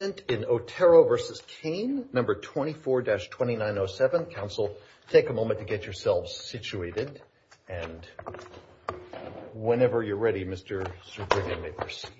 in Otero v. Kane, No. 24-2907. Counsel, take a moment to get yourselves situated. And whenever you're ready, Mr. Sugrivian, may proceed.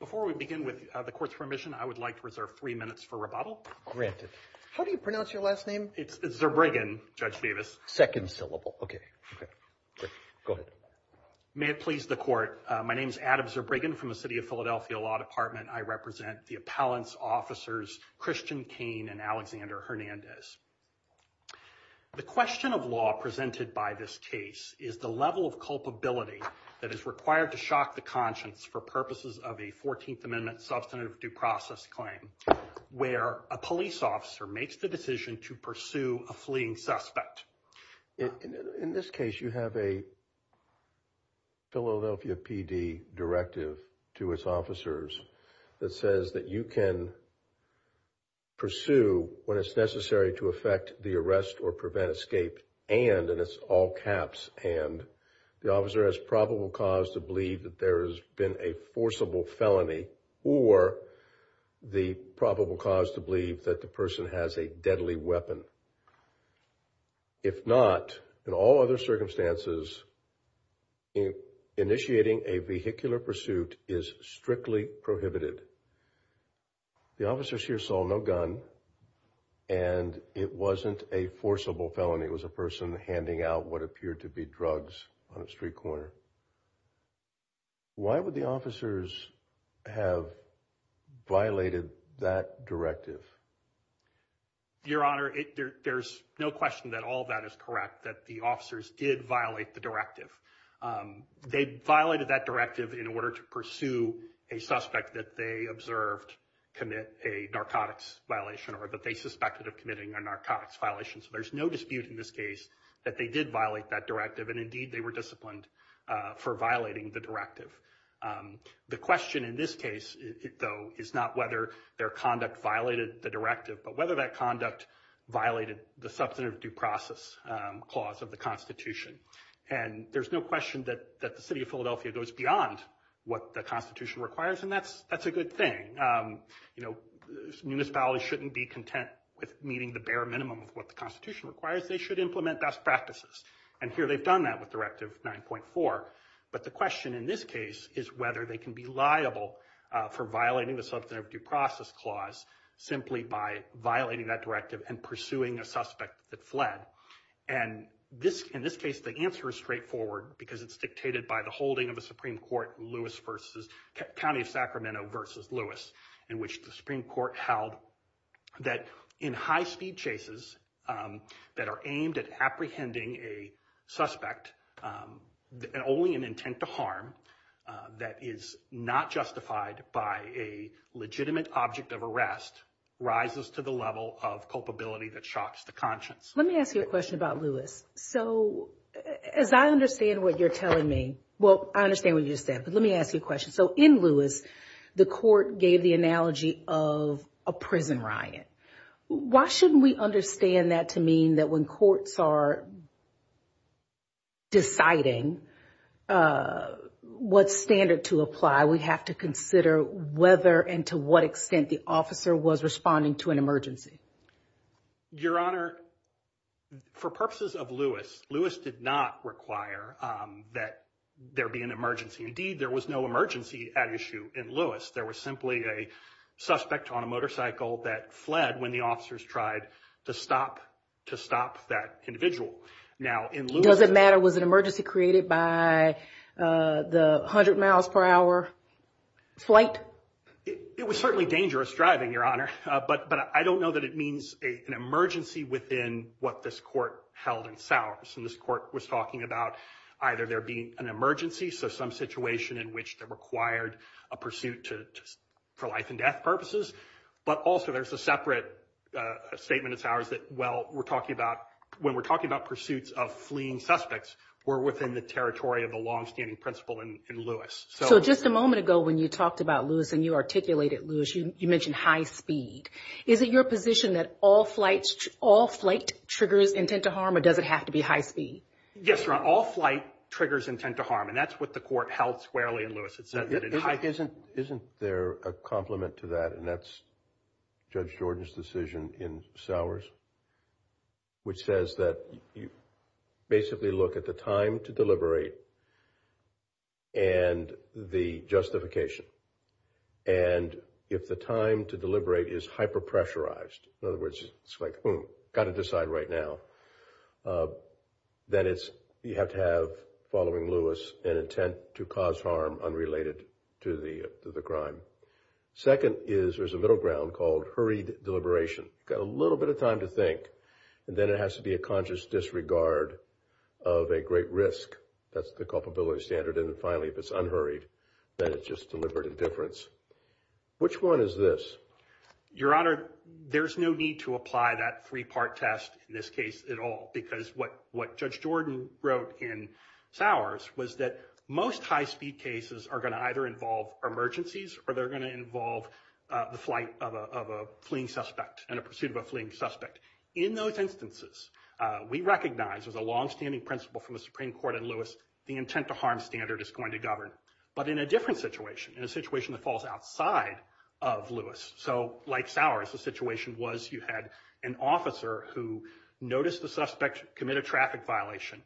Before we begin, with the Court's permission, I would like to reserve three minutes for rebuttal. Granted. How do you pronounce your last name? It's Zerbrighen, Judge Davis. Second syllable. Okay. Great. Go ahead. May it please the Court. My name is Adam Zerbrighen from the City of Philadelphia Law Department. I represent the appellant's officers, Christian Kane and Alexander Hernandez. The question of law presented by this case is the level of culpability that is required to shock the conscience for purposes of a 14th Amendment substantive due process claim where a police officer makes the decision to pursue a fleeing suspect. In this case, you have a Philadelphia PD directive to its officers that says that you can pursue when it's necessary to effect the arrest or prevent escape and, and it's all caps, and the officer has probable cause to believe that there has been a forcible felony or the probable cause to believe that the person has a deadly weapon. If not, in all other circumstances, initiating a vehicular pursuit is strictly prohibited. The officers here saw no gun and it wasn't a forcible felony. It was a person handing out what appeared to be drugs on a street corner. Your Honor, why would the officers have violated that directive? Your Honor, there's no question that all of that is correct, that the officers did violate the directive. They violated that directive in order to pursue a suspect that they observed commit a narcotics violation or that they suspected of committing a narcotics violation, so there's no dispute in this case that they did violate that directive and, indeed, they were disciplined for violating the directive. The question in this case, though, is not whether their conduct violated the directive but whether that conduct violated the substantive due process clause of the Constitution. And there's no question that the city of Philadelphia goes beyond what the Constitution requires and that's, that's a good thing. You know, municipalities shouldn't be content with meeting the bare minimum of what the Constitution requires. They should implement best practices. And here they've done that with Directive 9.4. But the question in this case is whether they can be liable for violating the substantive due process clause simply by violating that directive and pursuing a suspect that fled. And this, in this case, the answer is straightforward because it's dictated by the holding of a Supreme Court Lewis versus, County of Sacramento versus Lewis, in which the Supreme Court held that in high-speed chases that are aimed at apprehending a suspect and only in intent to harm that is not justified by a legitimate object of arrest rises to the level of culpability that shocks the conscience. Let me ask you a question about Lewis. So as I understand what you're telling me, well, I understand what you just said, but let me ask you a question. So in Lewis, the court gave the analogy of a prison riot. Why shouldn't we understand that to mean that when courts are deciding what standard to apply, we have to consider whether and to what extent the officer was responding to an emergency? Your Honor, for purposes of Lewis, Lewis did not require that there be an emergency. Indeed, there was no emergency at issue in Lewis. There was simply a suspect on a motorcycle that fled when the officers tried to stop that individual. Now, in Lewis... Does it matter? Was an emergency created by the 100 miles per hour flight? It was certainly dangerous driving, Your Honor, but I don't know that it means an emergency within what this court held in Sowers. And this court was talking about either there being an emergency, so some situation in which that required a pursuit for life and death purposes. But also there's a separate statement in Sowers that, well, when we're talking about pursuits of fleeing suspects, we're within the territory of the longstanding principle in Lewis. So just a moment ago when you talked about Lewis and you articulated Lewis, you mentioned high speed. Is it your position that all flight triggers intent to harm or does it have to be high speed? Yes, Your Honor. All flight triggers intent to harm, and that's what the court held squarely in Lewis. Isn't there a complement to that, and that's Judge Jordan's decision in Sowers, which says that you basically look at the time to deliberate and the justification. And if the time to deliberate is hyper-pressurized, in other words, it's like, boom, got to decide right now, then you have to have, following Lewis, an intent to cause harm unrelated to the crime. Second is there's a middle ground called hurried deliberation. You've got a little bit of time to think, and then it has to be a conscious disregard of a great risk. That's the culpability standard. And then finally, if it's unhurried, then it's just deliberate indifference. Which one is this? Your Honor, there's no need to apply that three-part test in this case at all. Because what Judge Jordan wrote in Sowers was that most high-speed cases are going to either involve emergencies or they're going to involve the flight of a fleeing suspect and a pursuit of a fleeing suspect. In those instances, we recognize as a longstanding principle from the Supreme Court in Lewis, the intent to harm standard is going to govern. But in a different situation, in a situation that falls outside of Lewis. So like Sowers, the situation was you had an officer who noticed the suspect commit a traffic violation.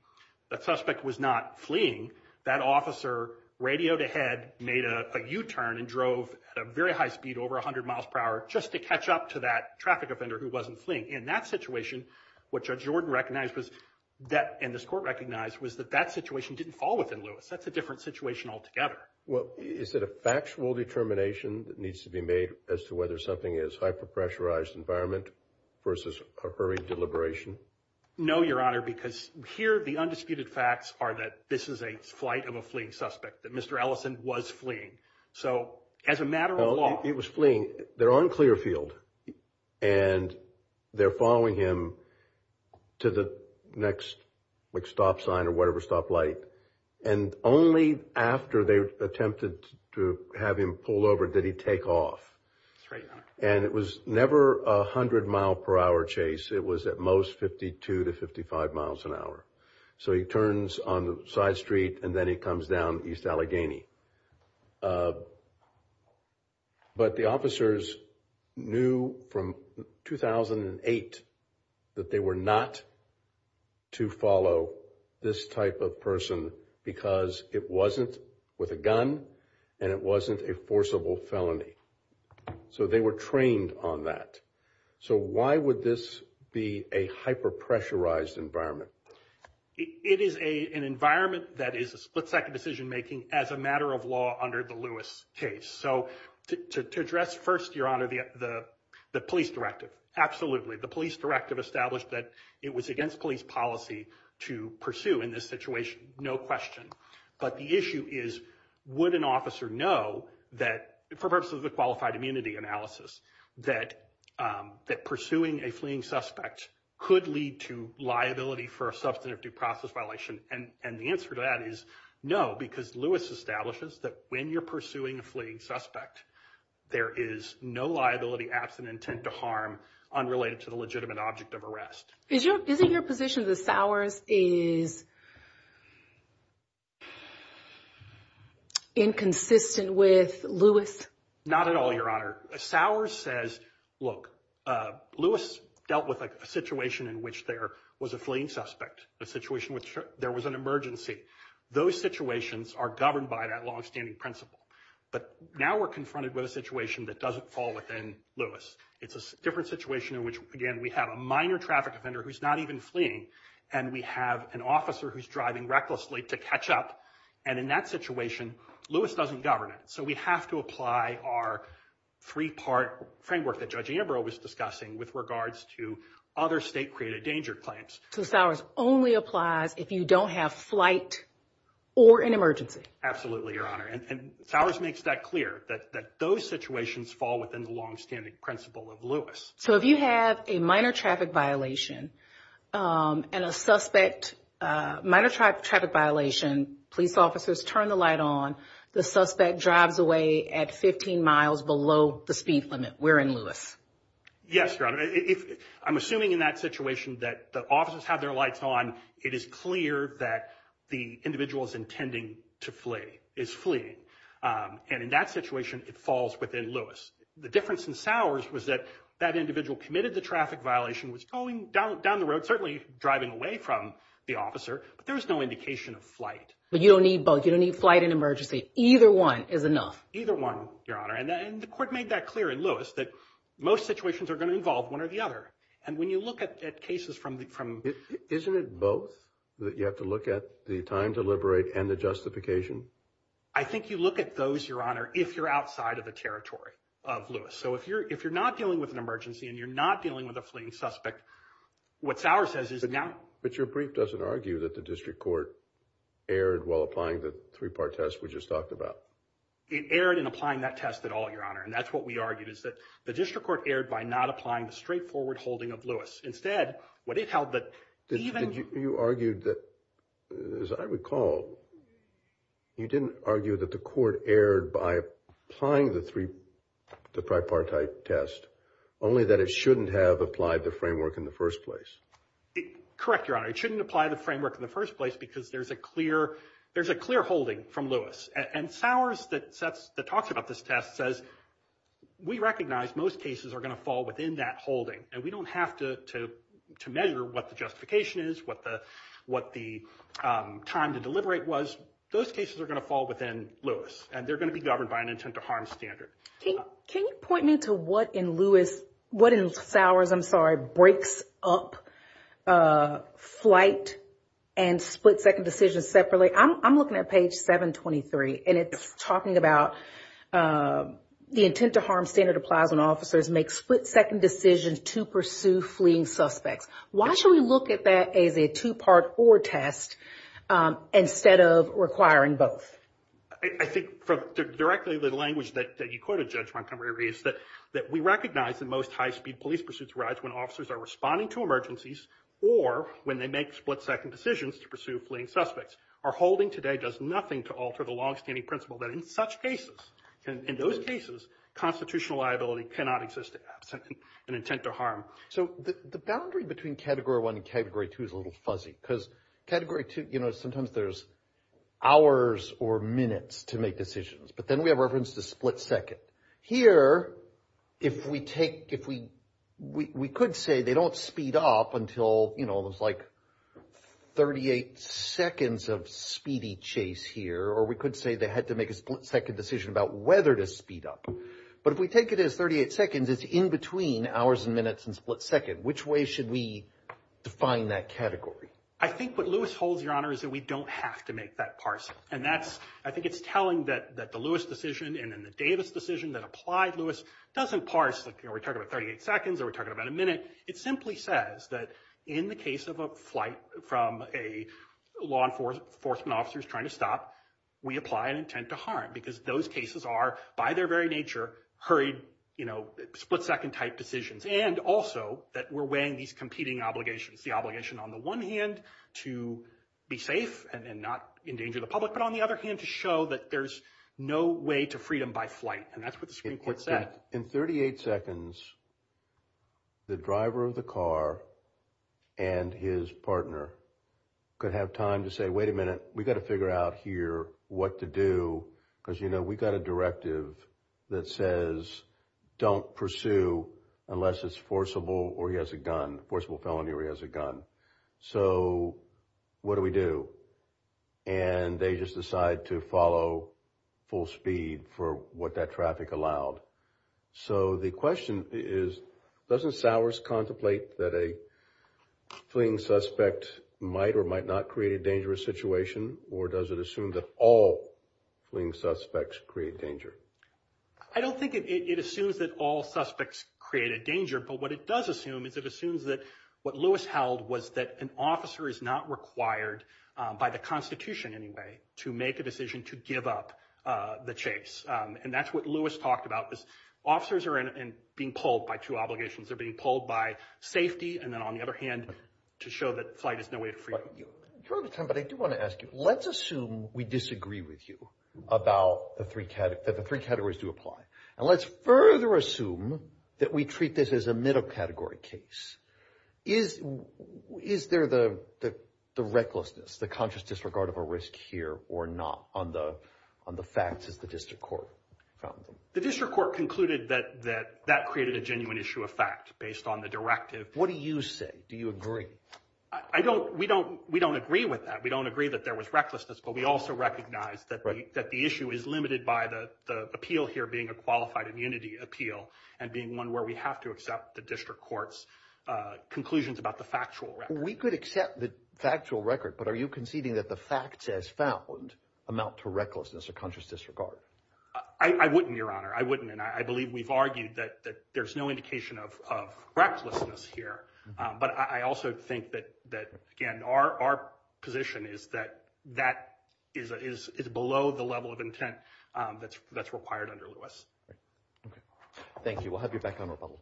That suspect was not fleeing. That officer radioed ahead, made a U-turn, and drove at a very high speed, over 100 miles per hour, just to catch up to that traffic offender who wasn't fleeing. In that situation, what Judge Jordan recognized and this Court recognized was that that situation didn't fall within Lewis. That's a different situation altogether. Well, is it a factual determination that needs to be made as to whether something is hyper-pressurized environment versus a hurried deliberation? No, Your Honor, because here the undisputed facts are that this is a flight of a fleeing suspect. That Mr. Ellison was fleeing. So as a matter of law. He was fleeing. They're on Clearfield and they're following him to the next stop sign or whatever stop light. And only after they attempted to have him pulled over did he take off. And it was never a 100 mile per hour chase. It was at most 52 to 55 miles an hour. So he turns on the side street and then he comes down East Allegheny. But the officers knew from 2008 that they were not to follow this type of person because it wasn't with a gun and it wasn't a forcible felony. So they were trained on that. So why would this be a hyper-pressurized environment? It is a an environment that is a split second decision making as a matter of law under the Lewis case. So to address first, Your Honor, the the police directive. The police directive established that it was against police policy to pursue in this situation. No question. But the issue is, would an officer know that for purposes of the qualified immunity analysis that that pursuing a fleeing suspect could lead to liability for a substantive due process violation? And the answer to that is no, because Lewis establishes that when you're pursuing a fleeing suspect, there is no liability absent intent to harm unrelated to the legitimate object of arrest. Is your position that Sowers is inconsistent with Lewis? Not at all, Your Honor. Sowers says, look, Lewis dealt with a situation in which there was a fleeing suspect, a situation which there was an emergency. Those situations are governed by that longstanding principle. But now we're confronted with a situation that doesn't fall within Lewis. It's a different situation in which, again, we have a minor traffic offender who's not even fleeing and we have an officer who's driving recklessly to catch up. And in that situation, Lewis doesn't govern it. So we have to apply our three-part framework that Judge Ambrose was discussing with regards to other state-created danger claims. So Sowers only applies if you don't have flight or an emergency? Absolutely, Your Honor. And Sowers makes that clear, that those situations fall within the longstanding principle of So if you have a minor traffic violation and a suspect, minor traffic violation, police officers turn the light on, the suspect drives away at 15 miles below the speed limit. We're in Lewis. Yes, Your Honor. I'm assuming in that situation that the officers have their lights on, it is clear that the individual is intending to flee, is fleeing. And in that situation, it falls within Lewis. The difference in Sowers was that that individual committed the traffic violation, was going down the road, certainly driving away from the officer, but there was no indication of flight. But you don't need both. You don't need flight and emergency. Either one is enough. Either one, Your Honor. And the court made that clear in Lewis, that most situations are going to involve one or the other. And when you look at cases from the... Isn't it both? That you have to look at the time to liberate and the justification? I think you look at those, Your Honor, if you're outside of the territory of Lewis. So if you're not dealing with an emergency and you're not dealing with a fleeing suspect, what Sowers says is... But your brief doesn't argue that the district court erred while applying the three-part test we just talked about. It erred in applying that test at all, Your Honor. And that's what we argued, is that the district court erred by not applying the straightforward holding of Lewis. Instead, what it held that even... You argued that, as I recall, you didn't argue that the court erred by applying the three... the tripartite test, only that it shouldn't have applied the framework in the first place. Correct, Your Honor. It shouldn't apply the framework in the first place because there's a clear holding from And Sowers that talks about this test says, we recognize most cases are going to fall within that holding. And we don't have to measure what the justification is, what the time to deliberate was. Those cases are going to fall within Lewis, and they're going to be governed by an intent to harm standard. Can you point me to what in Lewis... What in Sowers, I'm sorry, breaks up flight and split-second decisions separately? I'm looking at page 723, and it's talking about the intent to harm standard applies when officers make split-second decisions to pursue fleeing suspects. Why should we look at that as a two-part or test instead of requiring both? I think directly the language that you quoted, Judge Montgomery, is that we recognize that most high-speed police pursuits arise when officers are responding to emergencies or when they make split-second decisions to pursue fleeing suspects. Our holding today does nothing to alter the long-standing principle that in such cases, in those cases, constitutional liability cannot exist absent an intent to harm. So the boundary between Category 1 and Category 2 is a little fuzzy because Category 2, you make decisions. But then we have reference to split-second. Here, if we take, if we, we could say they don't speed up until, you know, it was like 38 seconds of speedy chase here, or we could say they had to make a split-second decision about whether to speed up. But if we take it as 38 seconds, it's in between hours and minutes and split-second. Which way should we define that category? I think what Lewis holds, Your Honor, is that we don't have to make that parsing. And that's, I think it's telling that the Lewis decision and then the Davis decision that applied Lewis doesn't parse that, you know, we're talking about 38 seconds or we're talking about a minute. It simply says that in the case of a flight from a law enforcement officer who's trying to stop, we apply an intent to harm. Because those cases are, by their very nature, hurried, you know, split-second type decisions. And also, that we're weighing these competing obligations, the obligation on the one hand to be safe and not endanger the public, but on the other hand to show that there's no way to freedom by flight, and that's what the Supreme Court said. In 38 seconds, the driver of the car and his partner could have time to say, wait a minute, we've got to figure out here what to do, because, you know, we've got a directive that says don't pursue unless it's forcible or he has a gun, forcible felony or he has a gun. So what do we do? And they just decide to follow full speed for what that traffic allowed. So the question is, doesn't Sowers contemplate that a fleeing suspect might or might not create a dangerous situation, or does it assume that all fleeing suspects create danger? I don't think it assumes that all suspects create a danger, but what it does assume is it assumes that what Lewis held was that an officer is not required by the Constitution anyway to make a decision to give up the chase. And that's what Lewis talked about, is officers are being pulled by two obligations. They're being pulled by safety, and then on the other hand, to show that flight is no way to freedom. You're out of time, but I do want to ask you, let's assume we disagree with you about the three categories do apply, and let's further assume that we treat this as a middle category case. Is there the recklessness, the conscious disregard of a risk here or not on the facts as the district court found them? The district court concluded that that created a genuine issue of fact based on the directive. What do you say? Do you agree? We don't agree with that. We don't agree that there was recklessness, but we also recognize that the issue is limited by the appeal here being a qualified immunity appeal and being one where we have to accept the district court's conclusions about the factual record. We could accept the factual record, but are you conceding that the facts as found amount to recklessness or conscious disregard? I wouldn't, Your Honor. I wouldn't. And I believe we've argued that there's no indication of recklessness here. But I also think that, again, our position is that that is below the level of intent that's required under Lewis. Okay. Thank you. We'll have you back on rebuttal.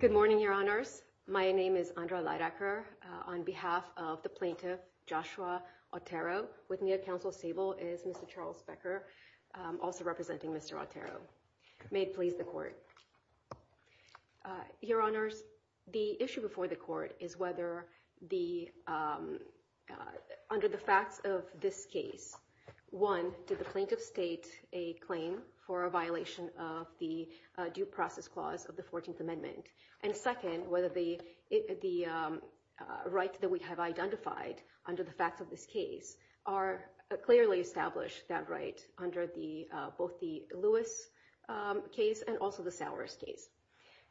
Good morning, Your Honors. My name is Andra Leidacker. On behalf of the plaintiff, Joshua Otero, with me at Counsel Sable is Mr. Charles Becker, also representing Mr. Otero. May it please the court. Your Honors, the issue before the court is whether under the facts of this case, one, did the plaintiff state a claim for a violation of the due process clause of the 14th Amendment, and second, whether the rights that we have identified under the facts of this case are clearly established that right under both the Lewis case and also the Sowers case.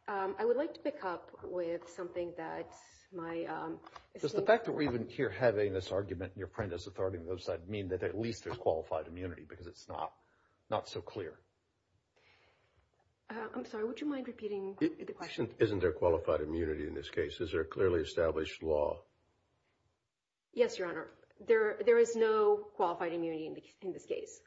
I would like to pick up with something that my assistant... Does the fact that we're even here having this argument in your print as authority on the other side mean that at least there's qualified immunity, because it's not so clear? I'm sorry, would you mind repeating the question? Isn't there qualified immunity in this case? Is there a clearly established law? Yes, Your Honor. There is no qualified immunity in this case.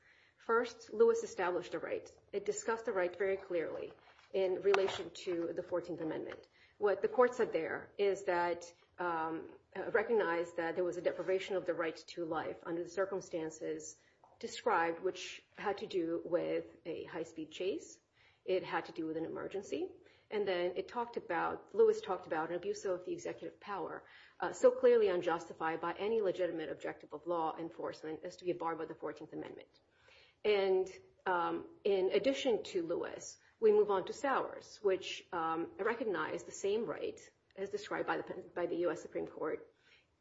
First, Lewis established a right. It discussed the right very clearly in relation to the 14th Amendment. What the court said there is that it recognized that there was a deprivation of the right to life under the circumstances described, which had to do with a high-speed chase. It had to do with an emergency. And then Lewis talked about an abuse of the executive power so clearly unjustified by any legitimate objective of law enforcement as to be barred by the 14th Amendment. And in addition to Lewis, we move on to Sowers, which recognized the same right as described by the U.S. Supreme Court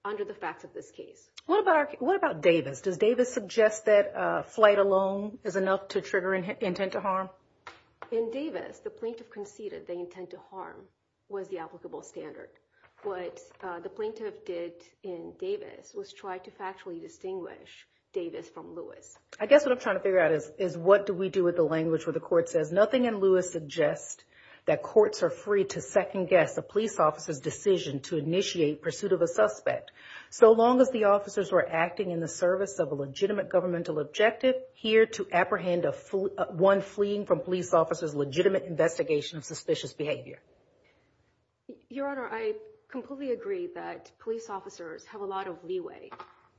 under the facts of this case. What about Davis? Does Davis suggest that flight alone is enough to trigger intent to harm? In Davis, the plaintiff conceded the intent to harm was the applicable standard. What the plaintiff did in Davis was try to factually distinguish Davis from Lewis. I guess what I'm trying to figure out is what do we do with the language where the court says nothing in Lewis suggests that courts are free to second-guess a police officer's decision to initiate pursuit of a suspect. So long as the officers were acting in the service of a legitimate governmental objective here to apprehend one fleeing from police officers' legitimate investigation of suspicious behavior? Your Honor, I completely agree that police officers have a lot of leeway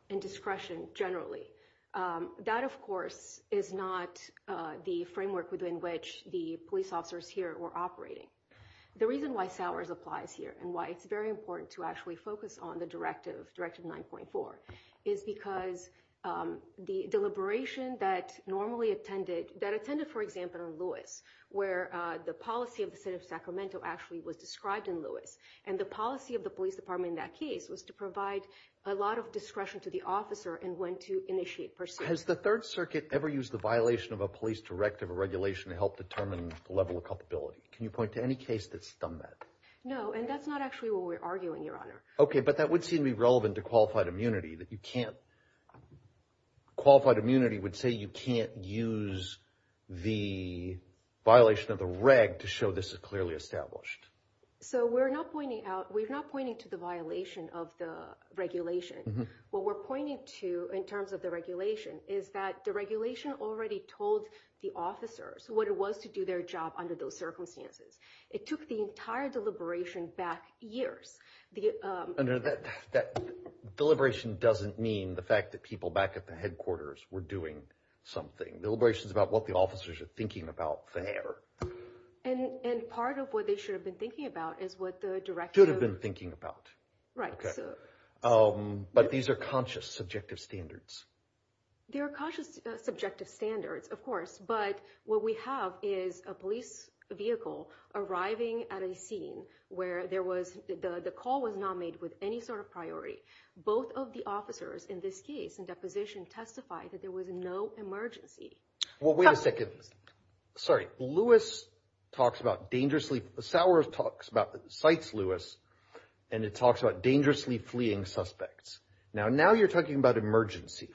and discretion generally. That, of course, is not the framework within which the police officers here were operating. The reason why Sowers applies here and why it's very important to actually focus on the deliberation that normally attended, that attended, for example, in Lewis, where the policy of the state of Sacramento actually was described in Lewis. And the policy of the police department in that case was to provide a lot of discretion to the officer in when to initiate pursuit. Has the Third Circuit ever used the violation of a police directive or regulation to help determine the level of culpability? Can you point to any case that's done that? No, and that's not actually what we're arguing, Your Honor. Okay, but that would seem to be relevant to qualified immunity, that you can't, qualified immunity would say you can't use the violation of the reg to show this is clearly established. So we're not pointing out, we're not pointing to the violation of the regulation. What we're pointing to in terms of the regulation is that the regulation already told the officers what it was to do their job under those circumstances. It took the entire deliberation back years. No, that deliberation doesn't mean the fact that people back at the headquarters were doing something. The deliberation is about what the officers are thinking about there. And part of what they should have been thinking about is what the directive- Should have been thinking about. Right. Okay. But these are conscious, subjective standards. They are conscious, subjective standards, of course. But what we have is a police vehicle arriving at a scene where there was, the call was not made with any sort of priority. Both of the officers in this case, in deposition, testified that there was no emergency. Well, wait a second. Sorry. Lewis talks about dangerously, Sauer talks about, cites Lewis, and it talks about dangerously fleeing suspects. Now you're talking about emergency.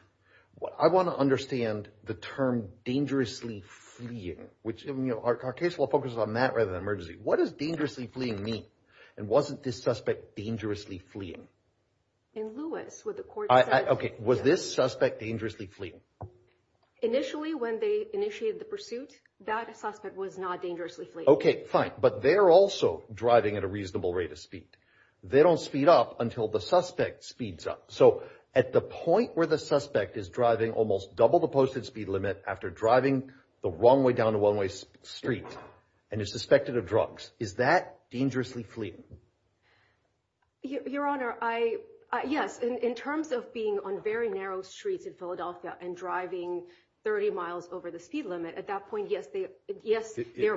I want to understand the term dangerously fleeing, which in our case, we'll focus on that rather than emergency. What does dangerously fleeing mean? And wasn't this suspect dangerously fleeing? In Lewis, what the court said- Okay. Was this suspect dangerously fleeing? Initially, when they initiated the pursuit, that suspect was not dangerously fleeing. Okay, fine. But they're also driving at a reasonable rate of speed. They don't speed up until the suspect speeds up. So at the point where the suspect is driving almost double the posted speed limit after driving the wrong way down a one-way street and is suspected of drugs, is that dangerously fleeing? Your Honor, yes. In terms of being on very narrow streets in Philadelphia and driving 30 miles over the speed limit, at that point, yes, they're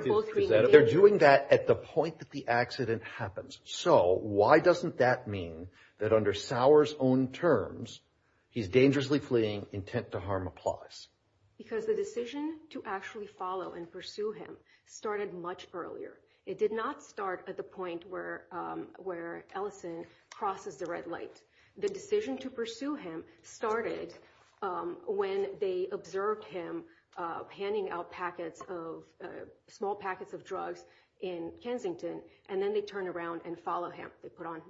both being engaged. They're doing that at the point that the accident happens. So why doesn't that mean that under Sauer's own terms, he's dangerously fleeing, intent to harm applies? Because the decision to actually follow and pursue him started much earlier. It did not start at the point where Ellison crosses the red light. The decision to pursue him started when they observed him handing out packets of, small They put on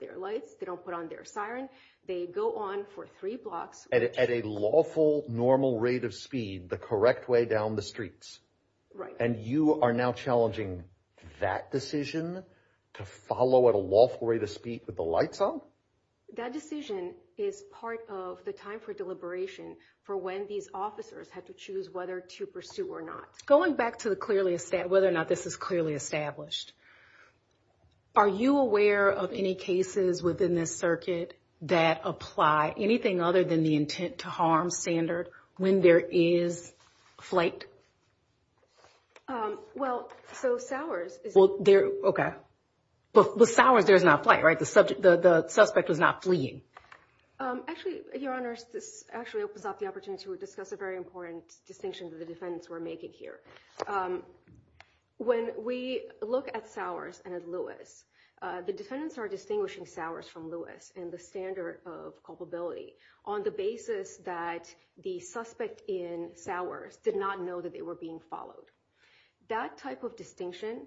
their lights, they don't put on their siren. They go on for three blocks. At a lawful, normal rate of speed, the correct way down the streets. Right. And you are now challenging that decision to follow at a lawful rate of speed with the lights on? That decision is part of the time for deliberation for when these officers have to choose whether to pursue or not. Going back to whether or not this is clearly established, are you aware of any cases within this circuit that apply anything other than the intent to harm standard when there is flight? Well, so Sauer's is... Okay. But with Sauer's, there's not flight, right? The suspect was not fleeing. Actually, Your Honor, this actually opens up the opportunity to discuss a very important distinction that the defendants were making here. When we look at Sauer's and at Lewis, the defendants are distinguishing Sauer's from Lewis and the standard of culpability on the basis that the suspect in Sauer's did not know that they were being followed. That type of distinction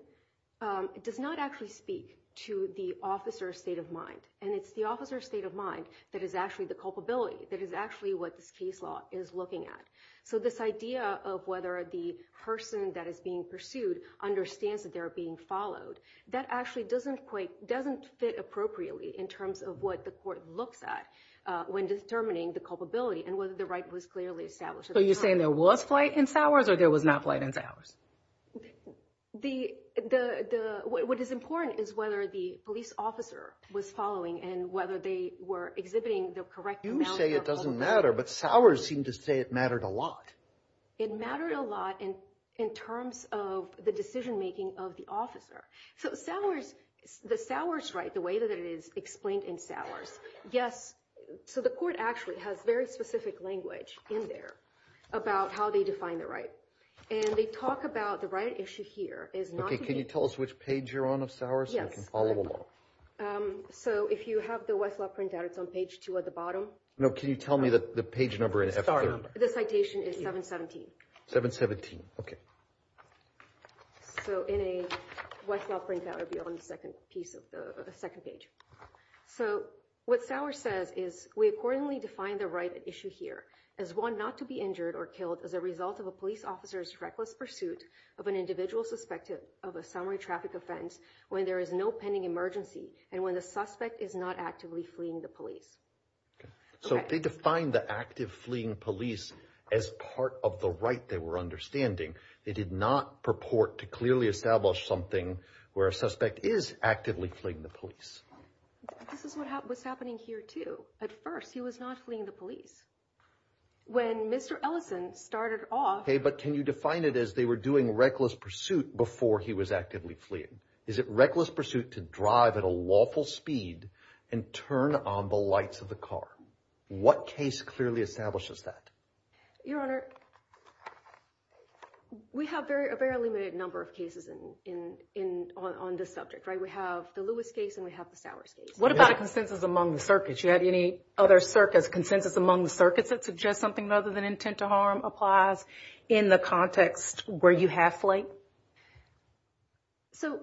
does not actually speak to the officer's state of mind. And it's the officer's state of mind that is actually the culpability, that is actually what this case law is looking at. So this idea of whether the person that is being pursued understands that they're being followed, that actually doesn't fit appropriately in terms of what the court looks at when determining the culpability and whether the right was clearly established at the time. So you're saying there was flight in Sauer's or there was not flight in Sauer's? What is important is whether the police officer was following and whether they were exhibiting the correct amount of culpability. You say it doesn't matter, but Sauer's seemed to say it mattered a lot. It mattered a lot in terms of the decision-making of the officer. So the Sauer's right, the way that it is explained in Sauer's, yes. So the court actually has very specific language in there about how they define the right. And they talk about the right issue here is not to be- Okay, can you tell us which page you're on of Sauer's? Yes. So I can follow along. Two at the bottom. No, can you tell me the page number in F3? The citation is 717. 717. Okay. So in a Westlaw printout, it would be on the second page. So what Sauer says is, we accordingly define the right at issue here as one not to be injured or killed as a result of a police officer's reckless pursuit of an individual suspected of a summary traffic offense when there is no pending emergency and when the suspect is not actively fleeing the police. So they define the active fleeing police as part of the right they were understanding. They did not purport to clearly establish something where a suspect is actively fleeing the police. This is what was happening here too. At first, he was not fleeing the police. When Mr. Ellison started off- Okay, but can you define it as they were doing reckless pursuit before he was actively fleeing? Is it reckless pursuit to drive at a lawful speed and turn on the lights of the car? What case clearly establishes that? Your Honor, we have a very limited number of cases on this subject, right? We have the Lewis case and we have the Sauer case. What about a consensus among the circuits? Do you have any other circuits, consensus among the circuits that suggest something other than intent to harm applies in the context where you have fleed? So,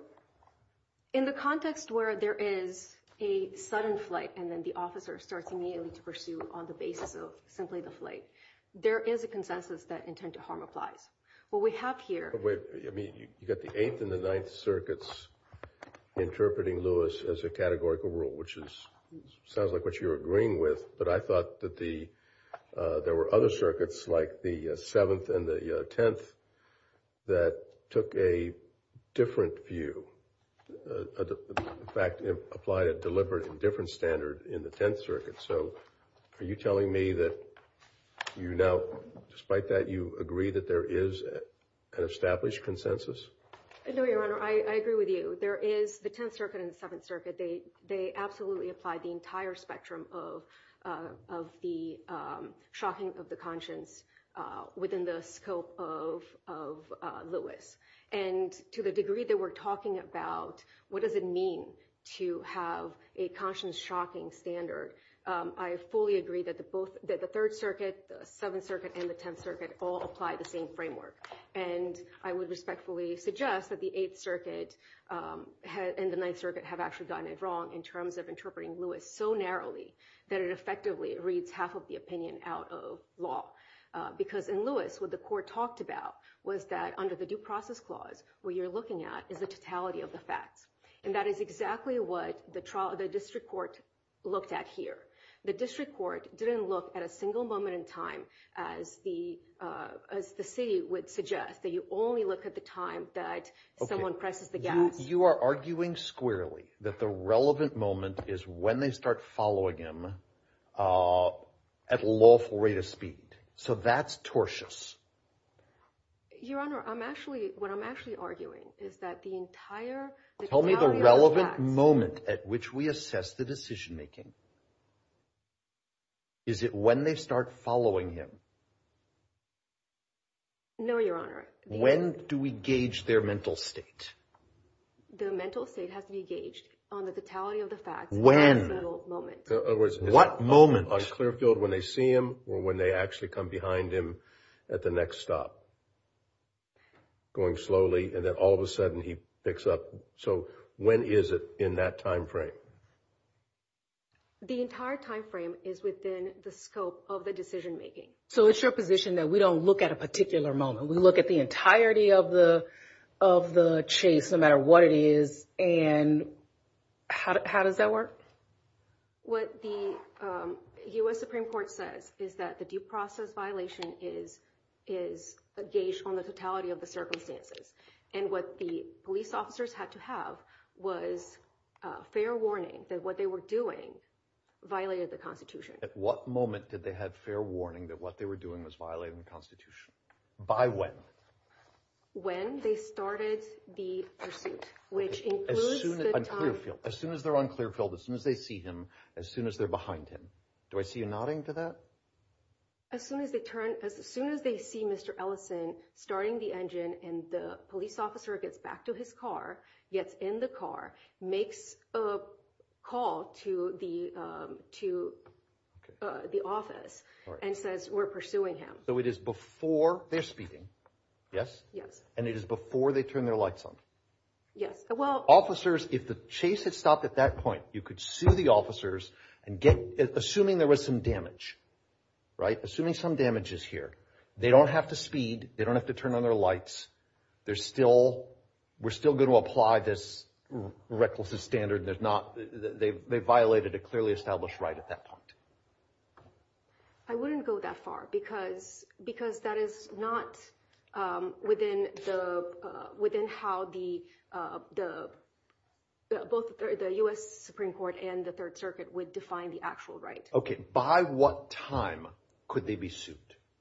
in the context where there is a sudden flight and then the officer starts immediately to pursue on the basis of simply the flight, there is a consensus that intent to harm applies. What we have here- Wait, you got the 8th and the 9th circuits interpreting Lewis as a categorical rule, which sounds like what you're agreeing with, but I thought that there were other circuits like the 7th and the 10th that took a different view, in fact, applied a deliberate and different standard in the 10th circuit. So are you telling me that you now, despite that, you agree that there is an established consensus? No, Your Honor, I agree with you. There is, the 10th circuit and the 7th circuit, they absolutely apply the entire spectrum of the shocking of the conscience within the scope of Lewis. And to the degree that we're talking about, what does it mean to have a conscience-shocking standard, I fully agree that the 3rd circuit, the 7th circuit, and the 10th circuit all apply the same framework. And I would respectfully suggest that the 8th circuit and the 9th circuit have actually done it wrong in terms of interpreting Lewis so narrowly that it effectively reads half of the opinion out of law. Because in Lewis, what the court talked about was that under the due process clause, what you're looking at is the totality of the facts. And that is exactly what the district court looked at here. The district court didn't look at a single moment in time, as the city would suggest, that you only look at the time that someone presses the gas. So you are arguing squarely that the relevant moment is when they start following him at lawful rate of speed. So that's tortious. Your Honor, I'm actually, what I'm actually arguing is that the entire, the totality of Tell me the relevant moment at which we assess the decision making. Is it when they start following him? No, Your Honor. When do we gauge their mental state? The mental state has to be gauged on the totality of the facts. When? At that moment. What moment? On clear field when they see him or when they actually come behind him at the next stop. Going slowly and then all of a sudden he picks up. So when is it in that time frame? The entire time frame is within the scope of the decision making. So it's your position that we don't look at a particular moment. We look at the entirety of the chase, no matter what it is, and how does that work? What the U.S. Supreme Court says is that the due process violation is gauged on the totality of the circumstances. And what the police officers had to have was fair warning that what they were doing violated the Constitution. At what moment did they have fair warning that what they were doing was violating the By when? When they started the pursuit, which includes the time. As soon as they're on clear field, as soon as they see him, as soon as they're behind him. Do I see you nodding to that? As soon as they turn, as soon as they see Mr. Ellison starting the engine and the police officer gets back to his car, gets in the car, makes a call to the office and says we're pursuing him. So it is before they're speeding, yes? Yes. And it is before they turn their lights on? Yes. Well, officers, if the chase had stopped at that point, you could sue the officers and get, assuming there was some damage, right? Assuming some damage is here. They don't have to speed. They don't have to turn on their lights. There's still, we're still going to apply this recklessness standard. There's not, they violated a clearly established right at that point. I wouldn't go that far because that is not within the, within how the, both the US Supreme Court and the Third Circuit would define the actual right. Okay. By what time could they be sued?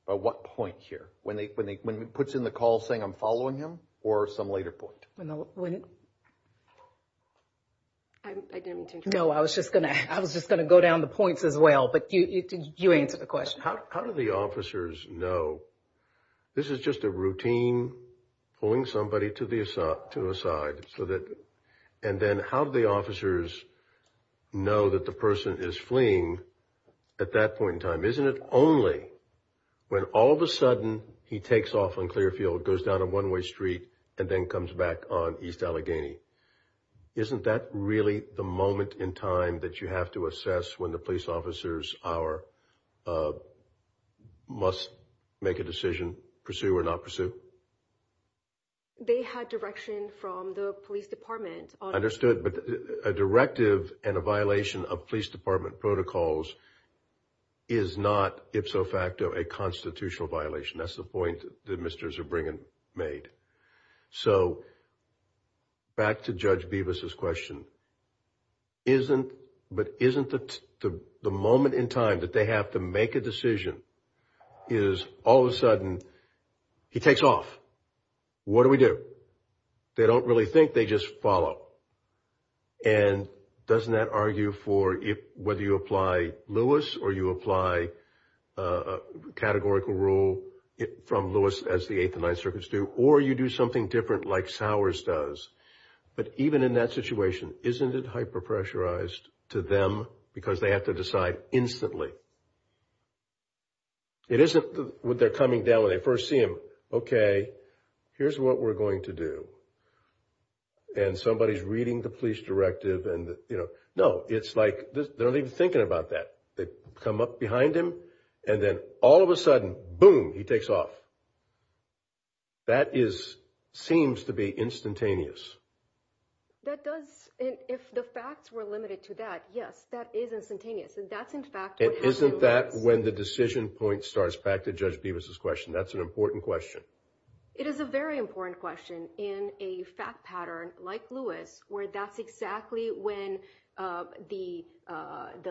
By what point here? When they, when he puts in the call saying I'm following him or some later point? No, I didn't mean to interrupt. No, I was just going to, I was just going to go down the points as well, but you answered the question. How do the officers know this is just a routine pulling somebody to the, to a side so that, and then how do the officers know that the person is fleeing at that point in time? Isn't it only when all of a sudden he takes off on Clearfield, goes down a one-way street and then comes back on East Allegheny? Isn't that really the moment in time that you have to assess when the police officers are, must make a decision, pursue or not pursue? They had direction from the police department. But a directive and a violation of police department protocols is not if so facto a constitutional violation. That's the point the ministers are bringing, made. So back to Judge Beavis's question, isn't, but isn't the, the, the moment in time that they have to make a decision is all of a sudden he takes off. What do we do? They don't really think they just follow. And doesn't that argue for if, whether you apply Lewis or you apply a categorical rule from Lewis as the Eighth and Ninth Circuits do, or you do something different like Sowers does. But even in that situation, isn't it hyper-pressurized to them because they have to decide instantly? It isn't when they're coming down, when they first see him, okay, here's what we're going to do. And somebody's reading the police directive and, you know, no, it's like they're not even thinking about that. They come up behind him and then all of a sudden, boom, he takes off. That is, seems to be instantaneous. That does. And if the facts were limited to that, yes, that is instantaneous. And that's in fact, isn't that when the decision point starts back to Judge Beavis's question? That's an important question. It is a very important question in a fact pattern like Lewis, where that's exactly when the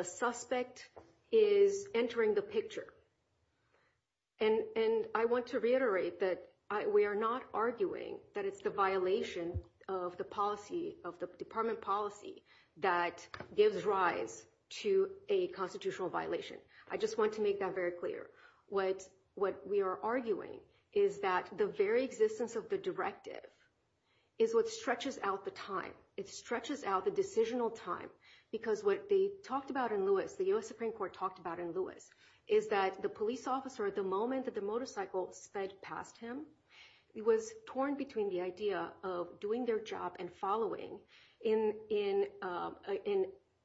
suspect is entering the picture. And I want to reiterate that we are not arguing that it's the violation of the policy, of the department policy that gives rise to a constitutional violation. I just want to make that very clear. What we are arguing is that the very existence of the directive is what stretches out the time. Because what they talked about in Lewis, the U.S. Supreme Court talked about in Lewis, is that the police officer, at the moment that the motorcycle sped past him, he was torn between the idea of doing their job and following in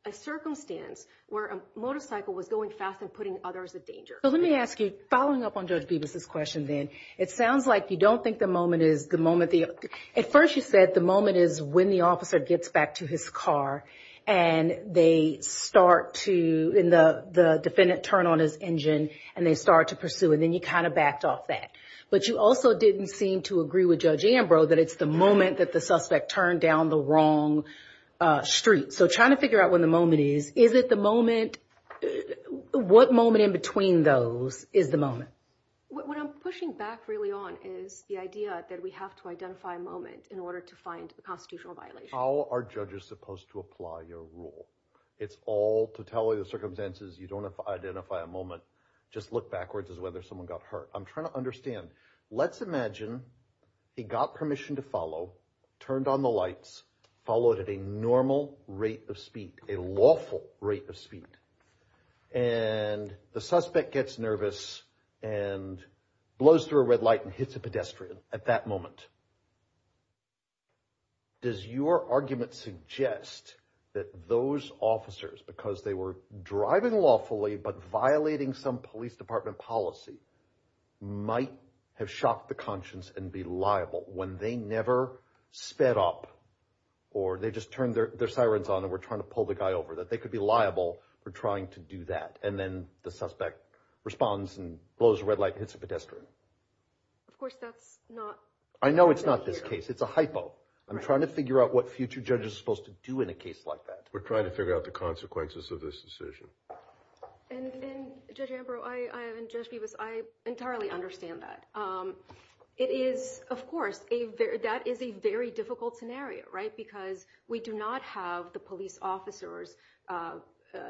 a circumstance where a motorcycle was going fast and putting others in danger. So let me ask you, following up on Judge Beavis's question then, it sounds like you don't think the moment is the moment the, at first you said the moment is when the officer gets back to his car and they start to, and the defendant turned on his engine and they start to pursue and then you kind of backed off that. But you also didn't seem to agree with Judge Ambrose that it's the moment that the suspect turned down the wrong street. So trying to figure out when the moment is, is it the moment, what moment in between those is the moment? What I'm pushing back really on is the idea that we have to identify a moment in order to find a constitutional violation. How are judges supposed to apply your rule? It's all to tell you the circumstances, you don't have to identify a moment, just look backwards as whether someone got hurt. I'm trying to understand. Let's imagine he got permission to follow, turned on the lights, followed at a normal rate of speed, a lawful rate of speed, and the suspect gets nervous and blows through a red light and hits a pedestrian at that moment. Does your argument suggest that those officers, because they were driving lawfully but violating some police department policy, might have shocked the conscience and be liable when they never sped up or they just turned their sirens on and were trying to pull the guy over, that they could be liable for trying to do that. And then the suspect responds and blows a red light and hits a pedestrian. Of course that's not... I know it's not this case, it's a hypo. I'm trying to figure out what future judges are supposed to do in a case like that. We're trying to figure out the consequences of this decision. And Judge Ambrose, and Judge Peeves, I entirely understand that. It is, of course, that is a very difficult scenario, right? Because we do not have the police officers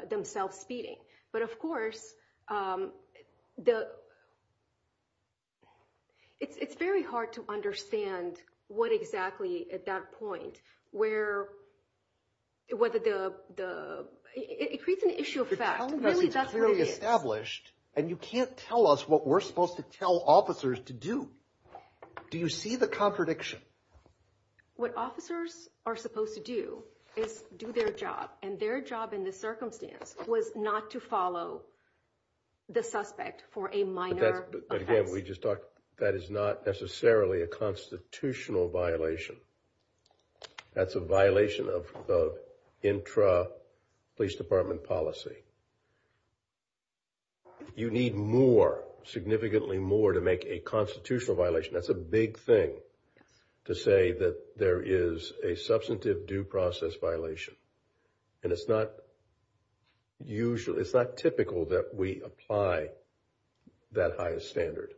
themselves speeding. But of course, it's very hard to understand what exactly, at that point, whether the... It creates an issue of fact. Really, that's what it is. You're telling us it's clearly established, and you can't tell us what we're supposed to tell officers to do. Do you see the contradiction? What officers are supposed to do is do their job, and their job in this circumstance was not to follow the suspect for a minor offense. But again, we just talked... That is not necessarily a constitutional violation. That's a violation of intra-police department policy. You need more, significantly more, to make a constitutional violation. That's a big thing to say that there is a substantive due process violation. And it's not typical that we apply that highest standard.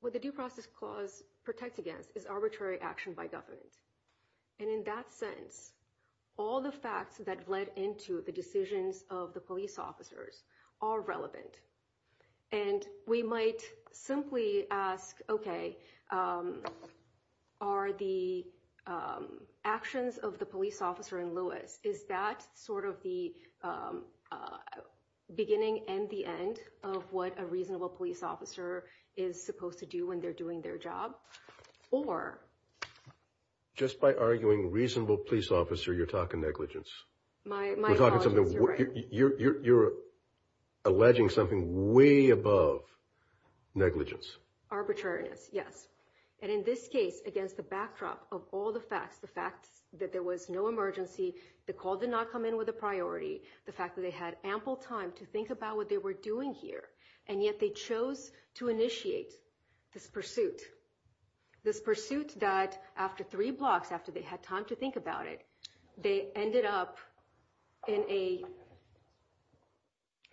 What the Due Process Clause protects against is arbitrary action by government. And in that sense, all the facts that led into the decisions of the police officers are relevant. And we might simply ask, okay, are the actions of the police officer in Lewis, is that sort of the beginning and the end of what a reasonable police officer is supposed to do when they're doing their job? Or... Just by arguing reasonable police officer, you're talking negligence. My apologies. You're right. You're arguing way above negligence. Arbitrariness. Yes. And in this case, against the backdrop of all the facts, the fact that there was no emergency, the call did not come in with a priority, the fact that they had ample time to think about what they were doing here, and yet they chose to initiate this pursuit. This pursuit that after three blocks, after they had time to think about it, they ended up in a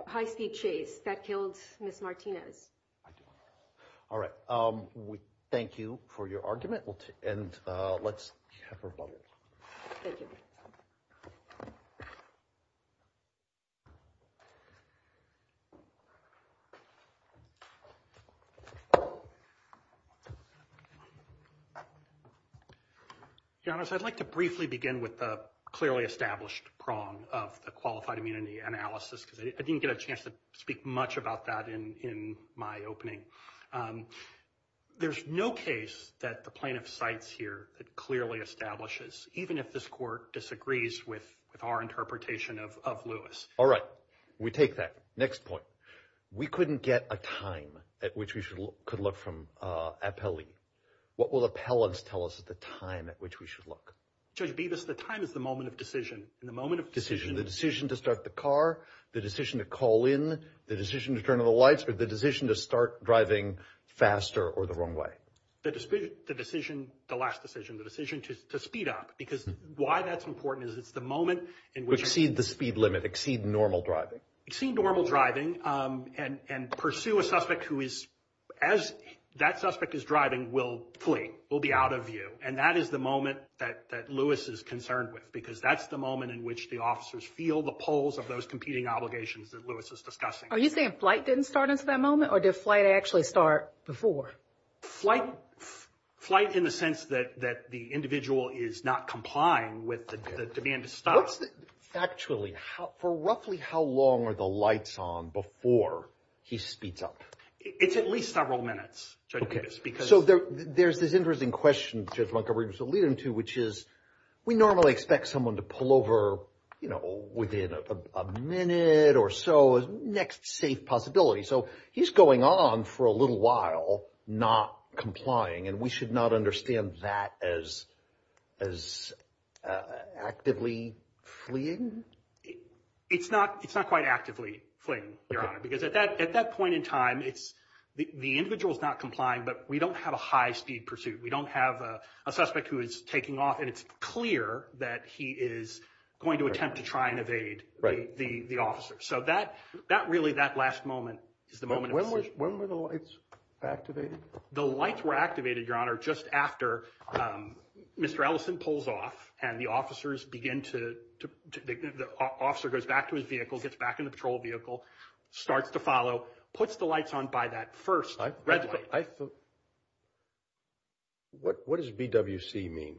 high-speed chase that killed Ms. Martinez. All right. Thank you for your argument, and let's have a rebuttal. Thank you. Your Honor, I'd like to briefly begin with the clearly established prong of the qualified immunity analysis, because I didn't get a chance to speak much about that in my opening. There's no case that the plaintiff cites here that clearly establishes, even if this court disagrees with our interpretation of Lewis. All right. We take that. Next point. We couldn't get a time at which we could look from appellee. What will appellants tell us is the time at which we should look? Judge Bevis, the time is the moment of decision. The moment of decision. The decision to start the car, the decision to call in, the decision to turn on the lights, or the decision to start driving faster or the wrong way? The decision, the last decision, the decision to speed up, because why that's important is it's the moment in which... Exceed the speed limit, exceed normal driving. Exceed normal driving and pursue a suspect who is, as that suspect is driving, will flee, will be out of view. And that is the moment that Lewis is concerned with, because that's the moment in which the officers feel the pulls of those competing obligations that Lewis is discussing. Are you saying flight didn't start until that moment, or did flight actually start before? Flight, in the sense that the individual is not complying with the demand to stop. Factually, for roughly how long are the lights on before he speeds up? It's at least several minutes, Judge Bevis, because... So there's this interesting question Judge Montgomery was alluding to, which is we normally expect someone to pull over within a minute or so, next safe possibility. So he's going on for a little while not complying, and we should not understand that as actively fleeing? It's not quite actively fleeing, Your Honor, because at that point in time, the individual is not complying, but we don't have a high speed pursuit. We don't have a suspect who is taking off, and it's clear that he is going to attempt to try and evade the officer. So that really, that last moment, is the moment... When were the lights activated? The lights were activated, Your Honor, just after Mr. Ellison pulls off, and the officers begin to... The officer goes back to his vehicle, gets back in the patrol vehicle, starts to follow, puts the lights on by that first red light. I thought... What does BWC mean?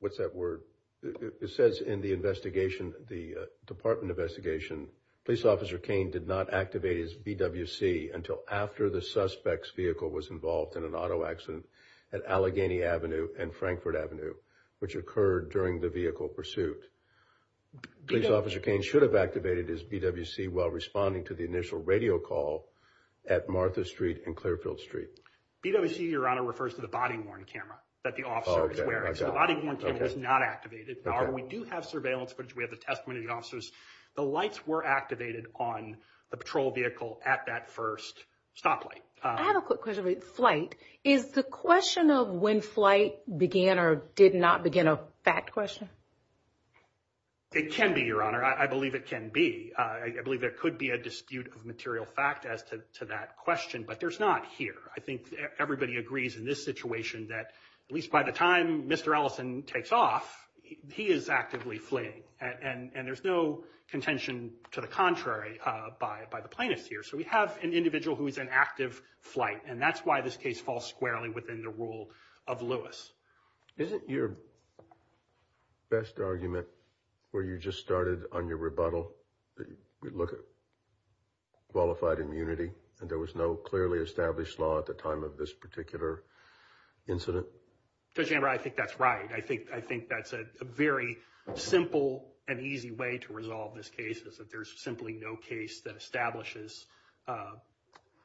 What's that word? It says in the investigation, the department investigation, Police Officer Cain did not activate his BWC until after the suspect's vehicle was involved in an auto accident at Allegheny Avenue and Frankfurt Avenue, which occurred during the vehicle pursuit. Police Officer Cain should have activated his BWC while responding to the initial radio call at Martha Street and Clearfield Street. BWC, Your Honor, refers to the body worn camera that the officer is wearing. So the body worn camera is not activated. However, we do have surveillance footage. We have the testimony of the officers. The lights were activated on the patrol vehicle at that first stoplight. I have a quick question about flight. Is the question of when flight began or did not begin a fact question? It can be, Your Honor. I believe it can be. I believe there could be a dispute of material fact as to that question, but there's not here. I think everybody agrees in this situation that at least by the time Mr. Ellison takes off, he is actively fleeing. And there's no contention to the contrary by the plaintiffs here. So we have an individual who is in active flight. And that's why this case falls squarely within the rule of Lewis. Isn't your best argument where you just started on your rebuttal, look at qualified immunity, and there was no clearly established law at the time of this particular incident? Judge Amber, I think that's right. I think that's a very simple and easy way to resolve this case is that there's simply no case that establishes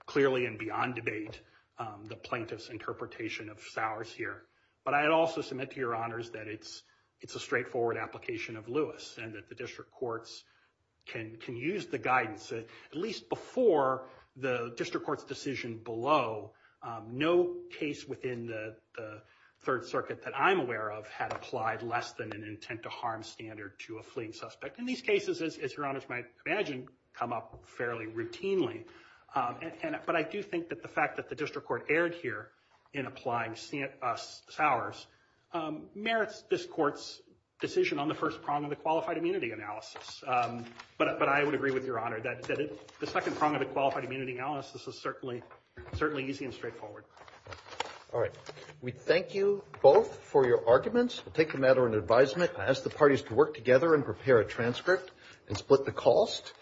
clearly and beyond debate the plaintiff's interpretation of ours here. But I'd also submit to Your Honors that it's a straightforward application of Lewis and that the district courts can use the guidance at least before the district court's decision below. No case within the Third Circuit that I'm aware of had applied less than an intent to harm standard to a fleeing suspect. In these cases, as Your Honors might imagine, come up fairly routinely. But I do think that the fact that the district court erred here in applying Sowers merits this court's decision on the first prong of the qualified immunity analysis. But I would agree with Your Honor that the second prong of the qualified immunity analysis is certainly easy and straightforward. All right. We thank you both for your arguments. We'll take the matter into advisement and ask the parties to work together and prepare a transcript and split the cost.